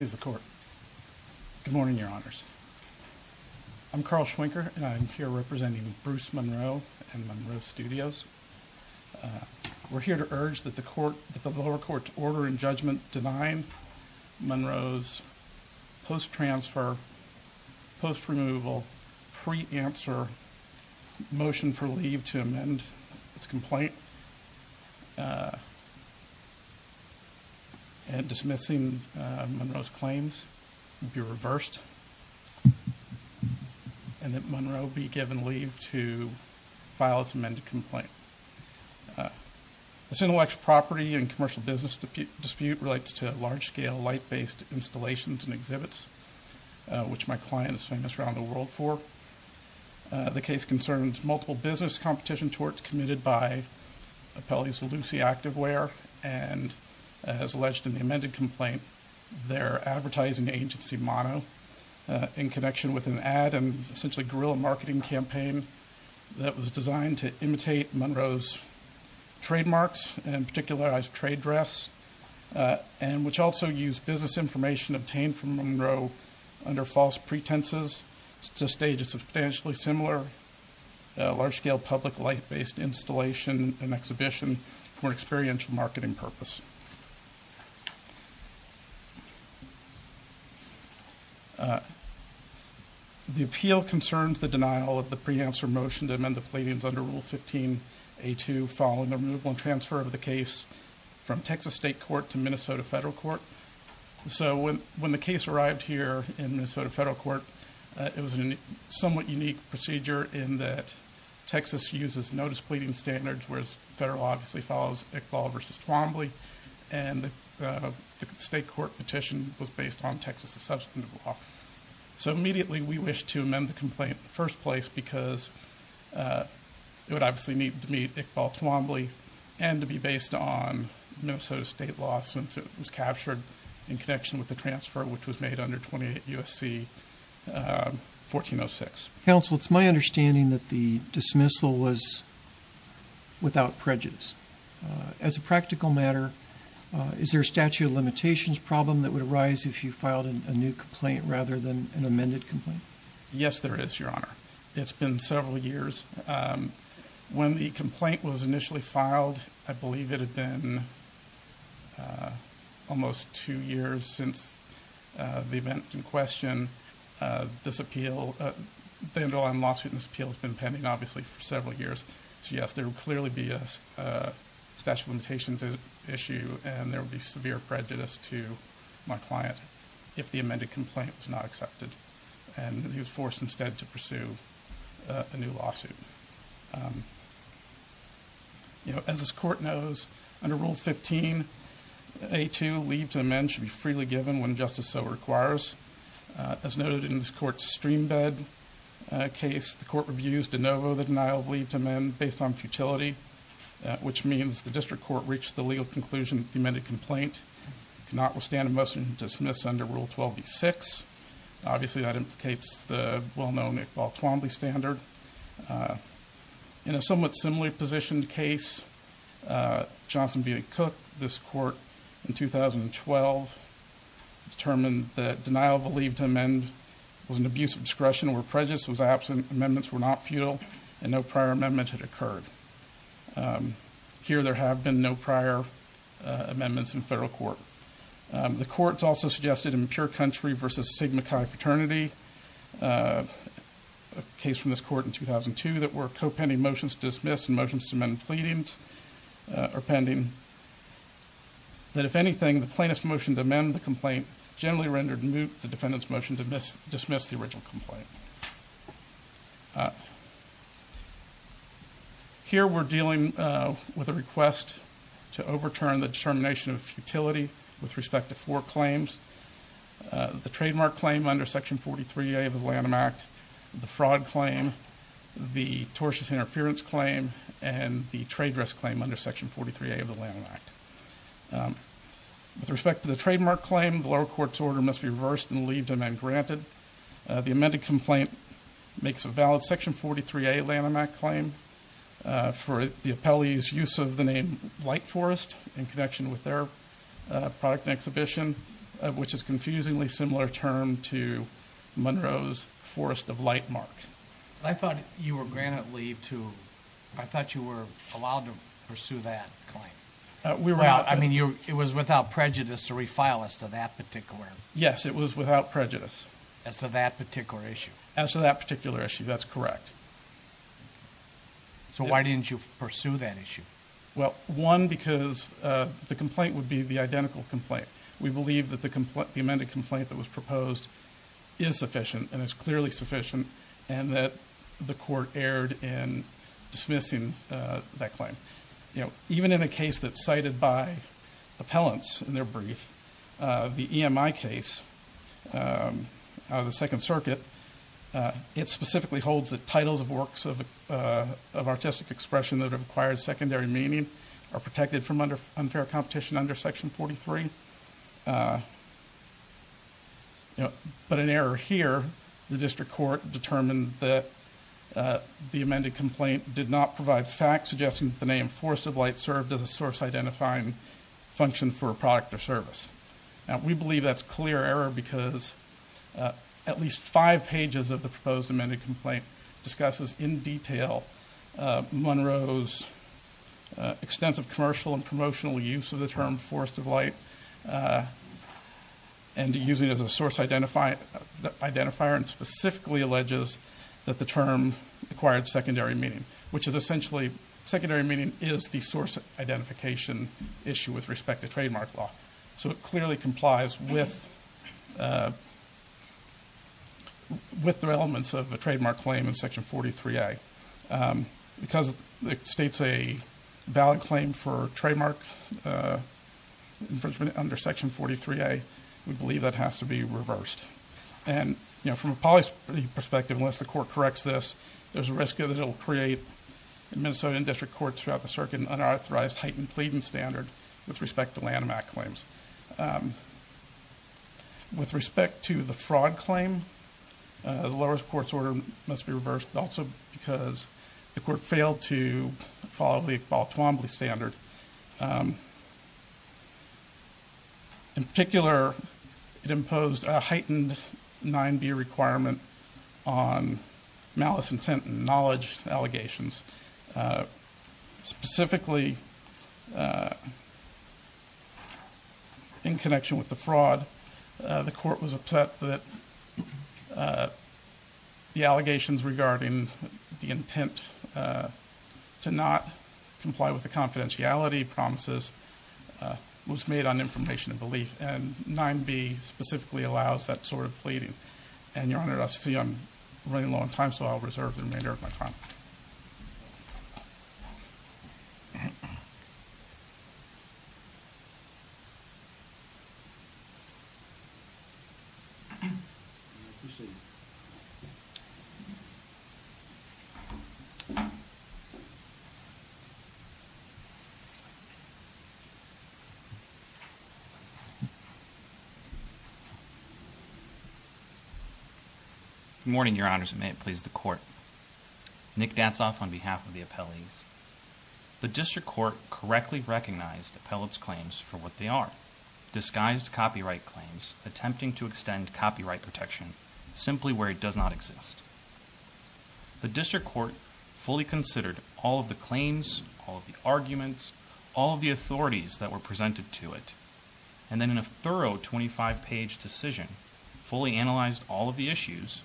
Good morning, Your Honors. I'm Carl Schwinker and I'm here representing Bruce Munro and Munro Studios. We're here to urge that the lower court's order and judgment denying Munro's post-transfer, post-removal, pre-answer motion for leave to amend its complaint and dismissing Munro's claims be reversed and that Munro be given leave to file its amended complaint. This intellectual property and commercial business dispute relates to large-scale light-based installations and exhibits, which my client is famous around the case concerns, multiple business competition torts committed by Apelli's Lucy Activewear and, as alleged in the amended complaint, their advertising agency, Mono, in connection with an ad and essentially guerrilla marketing campaign that was designed to imitate Munro's trademarks and particularized trade dress and which also used business information obtained from Munro under false pretenses to stage a substantially similar large-scale public light-based installation and exhibition for experiential marketing purpose. The appeal concerns the denial of the pre-answer motion to amend the plaintiffs under Rule 15a2 following the removal and transfer of the case from Minnesota. When the case arrived here in Minnesota Federal Court, it was a somewhat unique procedure in that Texas uses no displeasing standards, whereas federal law obviously follows Iqbal v. Twombly, and the state court petition was based on Texas' substantive law. So immediately we wish to amend the complaint in the first place because it would obviously need to meet Iqbal Twombly and to be based on Minnesota state law since it was captured in connection with the case that was made under 28 U.S.C. 1406. Counsel, it's my understanding that the dismissal was without prejudice. As a practical matter, is there a statute of limitations problem that would arise if you filed a new complaint rather than an amended complaint? Yes, there is, Your Honor. It's been several years. When the complaint was filed, the event in question, this appeal, the underlying lawsuit in this appeal has been pending obviously for several years. So yes, there would clearly be a statute of limitations issue and there would be severe prejudice to my client if the amended complaint was not accepted and he was forced instead to pursue a new lawsuit. You know, as this court knows, under Rule 15a2, leave to amend should be freely given when justice so requires. As noted in this court's streambed case, the court reviews de novo the denial of leave to amend based on futility, which means the district court reached the legal conclusion that the amended complaint cannot withstand a motion to dismiss under Rule 12b6. Obviously, that implicates the well-known Iqbal Twombly standard. In a somewhat similar position case, Johnson v. Cook, this court in 2012 determined that denial of a leave to amend was an abuse of discretion or prejudice was absent, amendments were not futile, and no prior amendment had occurred. Here, there have been no prior amendments in federal court. The courts also suggested in Pure Country v. Sigma Chi Fraternity, a case from this court in 2002 that were co-pending motions to dismiss and motions to amend pleadings are pending, that if anything, the plaintiff's motion to amend the complaint generally rendered moot the defendant's motion to dismiss the original complaint. Here, we're dealing with a request to overturn the determination of futility with respect to four claims. The trademark claim under Section 43a of the Lanham Act, the fraud claim, the tortious interference claim, and the trade dress claim under Section 43a of the Lanham Act. With respect to the trademark claim, the lower court's order must be reversed and leave to amend granted. The amended complaint makes a valid Section 43a Lanham Act claim for the appellee's use of the name Light Forest in connection with their product and exhibition, which is a confusingly similar term to Monroe's Forest of Light Mark. I thought you were granted leave to... I thought you were allowed to pursue that claim. I mean, it was without prejudice to refile as to that particular... Yes, it was without prejudice. As to that particular issue? As to that particular issue, that's correct. So why didn't you pursue that issue? Well, one, because the complaint would be the identical complaint. We believe that the amended complaint that was proposed is sufficient and is clearly sufficient and that the court erred in dismissing that claim. You know, even in a case that's cited by appellants in their brief, the EMI case out of the Second Circuit, it specifically holds that titles of works of artistic expression that have acquired secondary meaning are protected from unfair competition under Section 43. But an error here, the district court determined that the amended complaint did not provide facts suggesting that the name Forest of Light served as a source identifying function for a product or service. Now, we believe that's clear error because at least five pages of the proposed amended complaint discusses in detail Monroe's extensive commercial and the use of the term Forest of Light and using it as a source identifier and specifically alleges that the term acquired secondary meaning, which is essentially, secondary meaning is the source identification issue with respect to trademark law. So it clearly complies with the elements of a trademark claim in Section 43A. Because it states a valid claim for trademark infringement under Section 43A, we believe that has to be reversed. And, you know, from a policy perspective, unless the court corrects this, there's a risk that it'll create, in Minnesota and district courts throughout the circuit, an unauthorized heightened pleading standard with respect to Lanham Act claims. With respect to the fraud claim, the lowest court's order must be reversed also because the court failed to follow the Iqbal Twombly standard. In particular, it imposed a heightened 9b requirement on malice intent and knowledge allegations. Specifically, in connection with the fraud, the court was upset that the intent to not comply with the confidentiality promises was made on information and belief. And 9b specifically allows that sort of pleading. And, Your Honor, I see I'm running low on time, so I'll reserve the remainder of my time. Good morning, Your Honors, and may it please the Court. Nick Datsauf on behalf of the appellees. The district court correctly recognized appellate's claims for what they are, disguised copyright claims attempting to extend copyright protection simply where it does not exist. The district court fully considered all of the claims, all of the arguments, all of the authorities that were presented to it, and then in a thorough 25-page decision, fully analyzed all of the issues,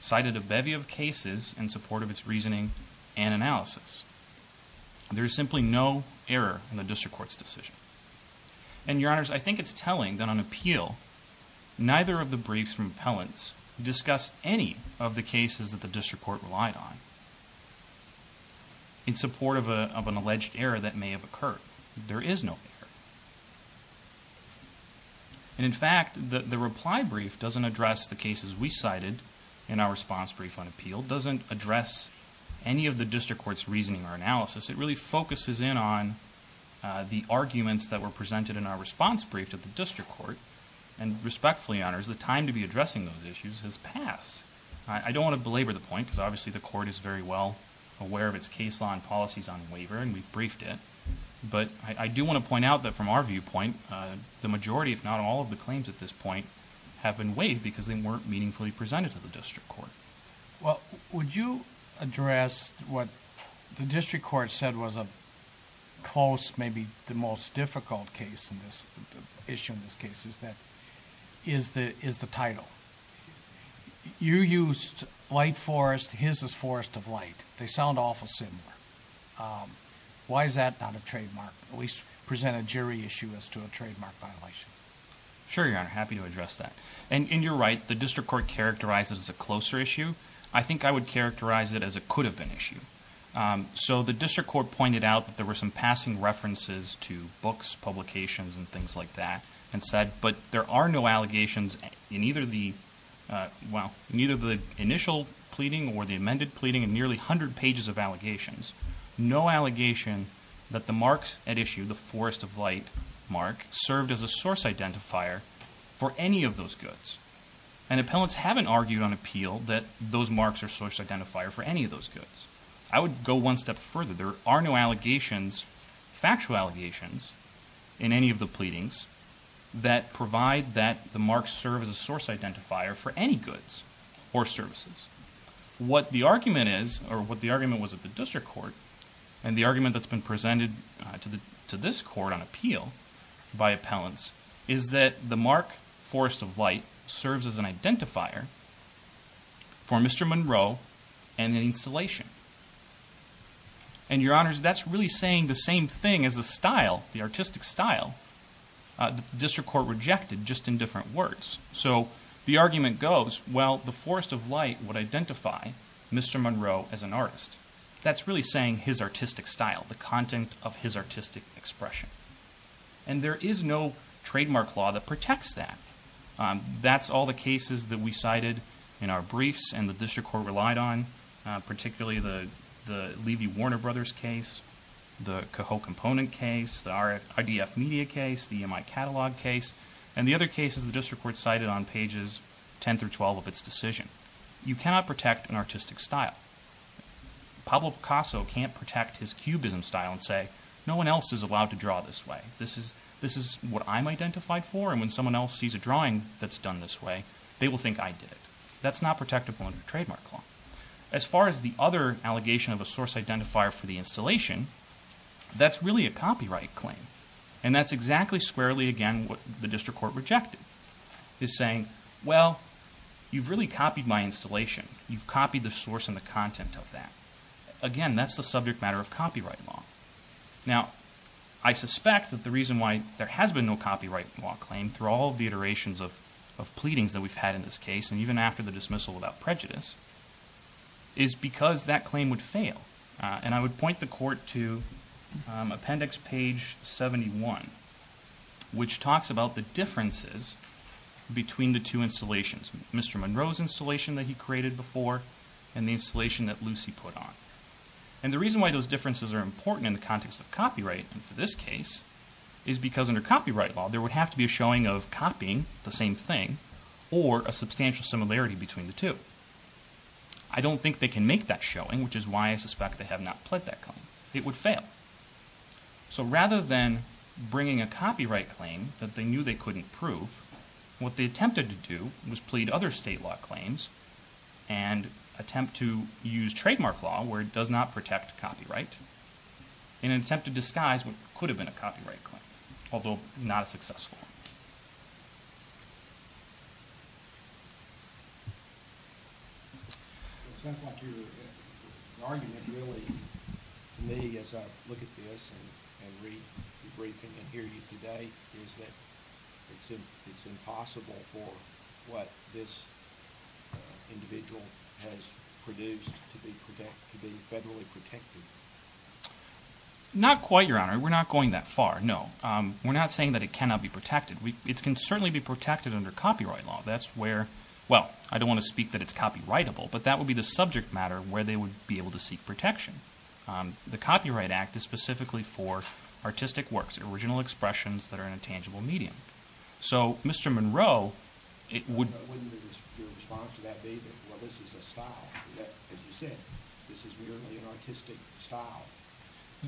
cited a bevy of cases in support of its reasoning and analysis. There is simply no error in the district court's decision. And, Your Honor, none of the briefs from appellants discuss any of the cases that the district court relied on in support of an alleged error that may have occurred. There is no error. And, in fact, the reply brief doesn't address the cases we cited in our response brief on appeal, doesn't address any of the district court's reasoning or analysis. It really focuses in on the arguments that were presented in our I don't want to belabor the point, because obviously the court is very well aware of its case law and policies on waiver, and we've briefed it. But I do want to point out that from our viewpoint, the majority, if not all, of the claims at this point have been waived because they weren't meaningfully presented to the district court. Well, would you address what the district court said was a close, maybe the most difficult issue in this case, is the title. You used Light Forest, his is Forest of Light. They sound awful similar. Why is that not a trademark? At least present a jury issue as to a trademark violation. Sure, Your Honor, happy to address that. And in your right, the district court characterized it as a closer issue. I think I would characterize it as it could have been an issue. So the district court pointed out that there were some passing references to books, publications, and things like that. And said, but there are no allegations in either the initial pleading or the amended pleading in nearly 100 pages of allegations, no allegation that the marks at issue, the Forest of Light mark, served as a source identifier for any of those goods. And appellants haven't argued on appeal that those marks are source identifier for any of those goods. I would go one step further. There are no allegations, factual allegations, in any of the pleadings that provide that the marks serve as a source identifier for any goods or services. What the argument is, or what the argument was at the district court, and the argument that's been presented to this court on appeal by appellants, is that the mark, Forest of Light, serves as an identifier for Mr. Monroe and the installation. And, Your Honors, that's really saying the same thing as the style, the artistic style, the district court rejected just in different words. So, the argument goes, well, the Forest of Light would identify Mr. Monroe as an artist. That's really saying his artistic style, the content of his artistic expression. And there is no trademark law that protects that. That's all the cases that we cited in our briefs and the district court relied on, particularly the Levy Warner Brothers case, the Cahill Component case, the IDF Media case, the EMI Catalog case, and the other cases the district court cited on pages 10 through 12 of its decision. You cannot protect an artistic style. Pablo Picasso can't protect his cubism style and say, no one else is allowed to draw this way. This is what I'm identified for, and when someone else sees a drawing that's done this way, they will think I did it. That's not protectable under a trademark law. As far as the other allegation of a source identifier for the installation, that's really a copyright claim. And that's exactly squarely, again, what the district court rejected. Is saying, well, you've really copied my installation. You've copied the source and the content of that. Again, that's the subject matter of copyright law. Now, I suspect that the reason why there has been no copyright law claim through all the iterations of pleadings that we've had in this case, and even after the dismissal without prejudice, is because that claim would fail. And I would point the court to appendix page 71, which talks about the differences between the two installations. Mr. Monroe's installation that he created before, and the installation that Lucy put on. And the reason why those differences are important in the context of copyright, and for this case, is because under copyright law, there would have to be a showing of copying the same thing, or a substantial similarity between the two. I don't think they can make that showing, which is why I suspect they have not pled that claim. It would fail. So rather than bringing a copyright claim that they knew they couldn't prove, what they attempted to do was plead other state law claims, and attempt to use trademark law, where it does not protect copyright, in an attempt to disguise what could have been a copyright claim, although not a successful one. It sounds like your argument really, to me, as I look at this and read the briefing and hear you today, is that it's impossible for what this individual has produced to be federally protected. Not quite, Your Honor. We're not going that far, no. We're not saying that it cannot be protected. It can certainly be protected under copyright law. That's where, well, I don't want to speak that it's copyrightable, but that would be the subject matter where they would be able to seek protection. The Copyright Act is specifically for artistic works, original expressions that are in a tangible medium. So Mr. Monroe, it would... Your response to that, David, well, this is a style. As you said, this is merely an artistic style.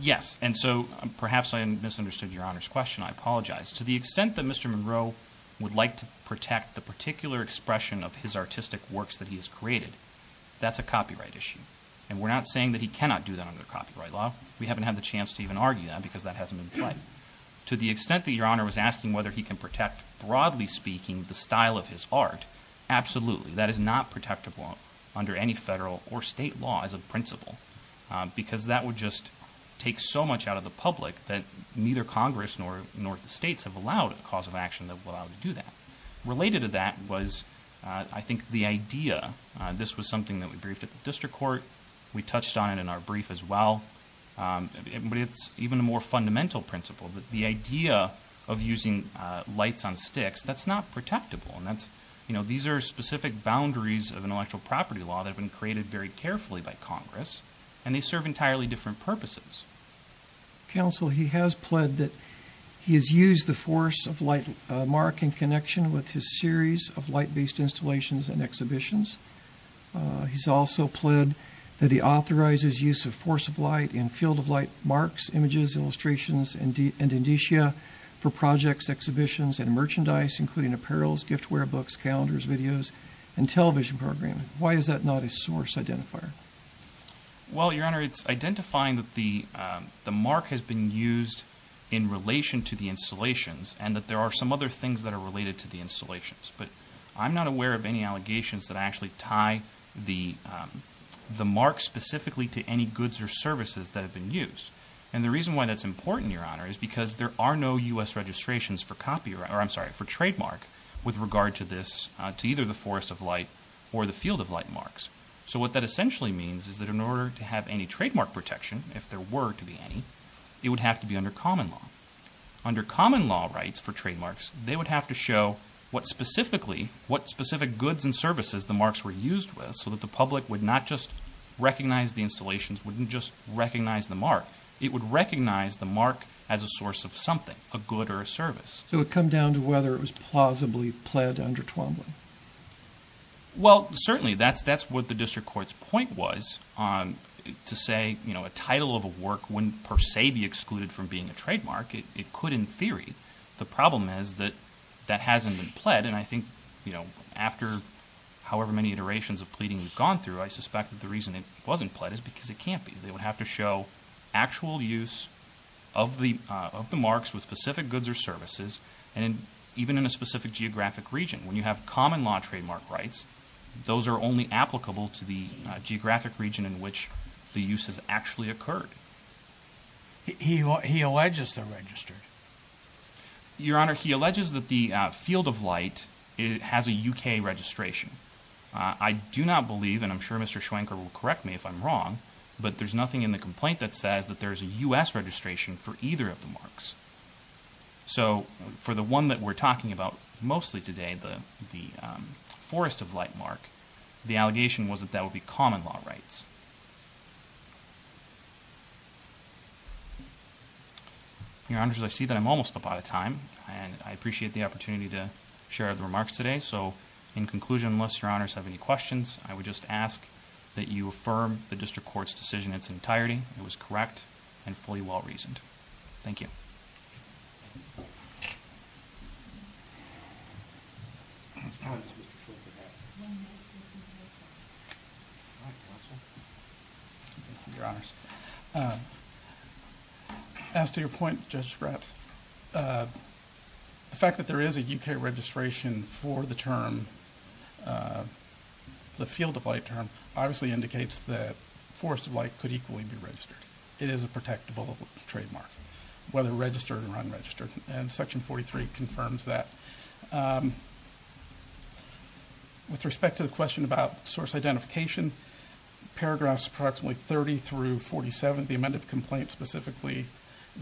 Yes, and so perhaps I misunderstood Your Honor's question. I apologize. To the extent that Mr. Monroe would like to protect the particular expression of his artistic works that he has created, that's a copyright issue, and we're not saying that he cannot do that under copyright law. We haven't had the chance to even argue that, because that hasn't been played. To the extent that Your Honor was asking whether he can protect, broadly speaking, the style of his art, absolutely. That is not protectable under any federal or state law as a principle, because that would just take so much out of the public that neither Congress nor the states have allowed a cause of action that would allow them to do that. Related to that was, I think, the idea. This was something that we briefed at the district court. We touched on it in our brief as well. But it's even a more fundamental principle. The idea of using lights on sticks, that's not protectable. These are specific boundaries of intellectual property law that have been created very carefully by Congress, and they serve entirely different purposes. Counsel, he has pled that he has used the force of light mark in connection with his series of light-based installations and exhibitions. He's also pled that he authorizes use of force of light in field-of-light marks, images, illustrations, and indicia for projects, exhibitions, and merchandise, including apparels, giftware, books, calendars, videos, and television programming. Why is that not a source identifier? Well, Your Honor, it's identifying that the mark has been used in relation to the installations and that there are some other things that are related to the installations. But I'm not aware of any allegations that actually tie the mark specifically to any goods or services that have been used. And the reason why that's important, Your Honor, is because there are no U.S. registrations for trademark with regard to this, to either the force of light or the field-of-light marks. So what that essentially means is that in order to have any trademark protection, if there were to be any, it would have to be under common law. Under common law rights for trademarks, they would have to show what specific goods and services the marks were used with so that the public would not just recognize the installations, wouldn't just recognize the mark. It would recognize the mark as a source of something, a good or a service. So it would come down to whether it was plausibly pled under Twombly. Well, certainly, that's what the district court's point was to say, you know, a title of a work wouldn't per se be excluded from being a trademark. It could in theory. The problem is that that hasn't been pled. And I think, you know, after however many iterations of pleading we've gone through, I suspect that the reason it wasn't pled is because it can't be. They would have to show actual use of the marks with specific goods or services and even in a specific geographic region. When you have common law trademark rights, those are only applicable to the geographic region in which the use has actually occurred. He alleges they're registered. Your Honor, he alleges that the Field of Light has a U.K. registration. I do not believe, and I'm sure Mr. Schwenker will correct me if I'm wrong, but there's nothing in the complaint that says that there's a U.S. registration for either of the marks. So for the one that we're talking about mostly today, the Forest of Light mark, the allegation was that that would be common law rights. Your Honors, I see that I'm almost up out of time, and I appreciate the opportunity to share the remarks today. So in conclusion, unless Your Honors have any questions, I would just ask that you affirm the district court's decision in its entirety. It was correct and fully well-reasoned. Thank you. As to your point, Justice Gratz, the fact that there is a U.K. registration for the term, the Field of Light term, obviously indicates that Forest of Light could equally be registered. It is a protectable trademark, whether registered or unregistered, and Section 43 confirms that. With respect to the question about source identification, paragraphs approximately 30 through 47, the amended complaint specifically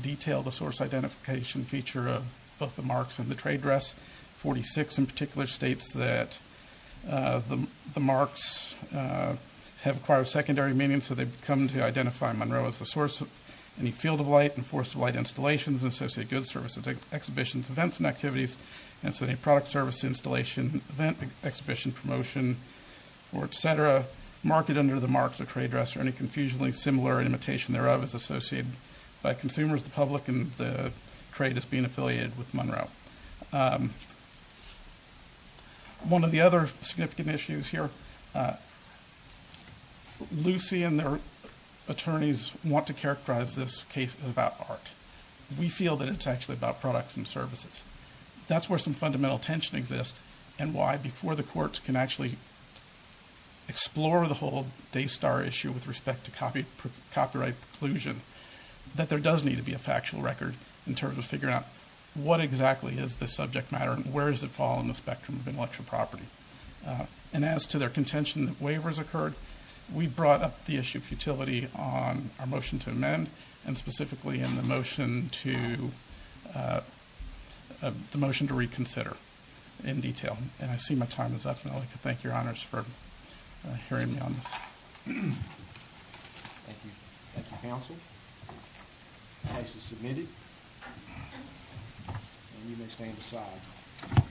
detailed the source identification feature of both the marks and the trade dress. 46 in particular states that the marks have acquired secondary meaning, and so they've come to identify Monroe as the source of any Field of Light and Forest of Light installations and associated goods, services, exhibitions, events, and activities, and so any product, service, installation, event, exhibition, promotion, or et cetera, market under the marks or trade dress or any confusionally similar imitation thereof is associated by consumers, the public, and the trade as being affiliated with Monroe. One of the other significant issues here, Lucy and their attorneys want to characterize this case as about art. We feel that it's actually about products and services. That's where some fundamental tension exists and why before the courts can actually explore the whole Daystar issue with respect to copyright preclusion, that there does need to be a factual record in terms of figuring out what exactly is the subject matter and where does it fall on the spectrum of intellectual property. And as to their contention that waivers occurred, we brought up the issue of futility on our motion to amend and specifically in the motion to reconsider in detail, and I see my time is up, and I'd like to thank your honors for hearing me on this. Thank you. Thank you, counsel. The case is submitted, and you may stand aside.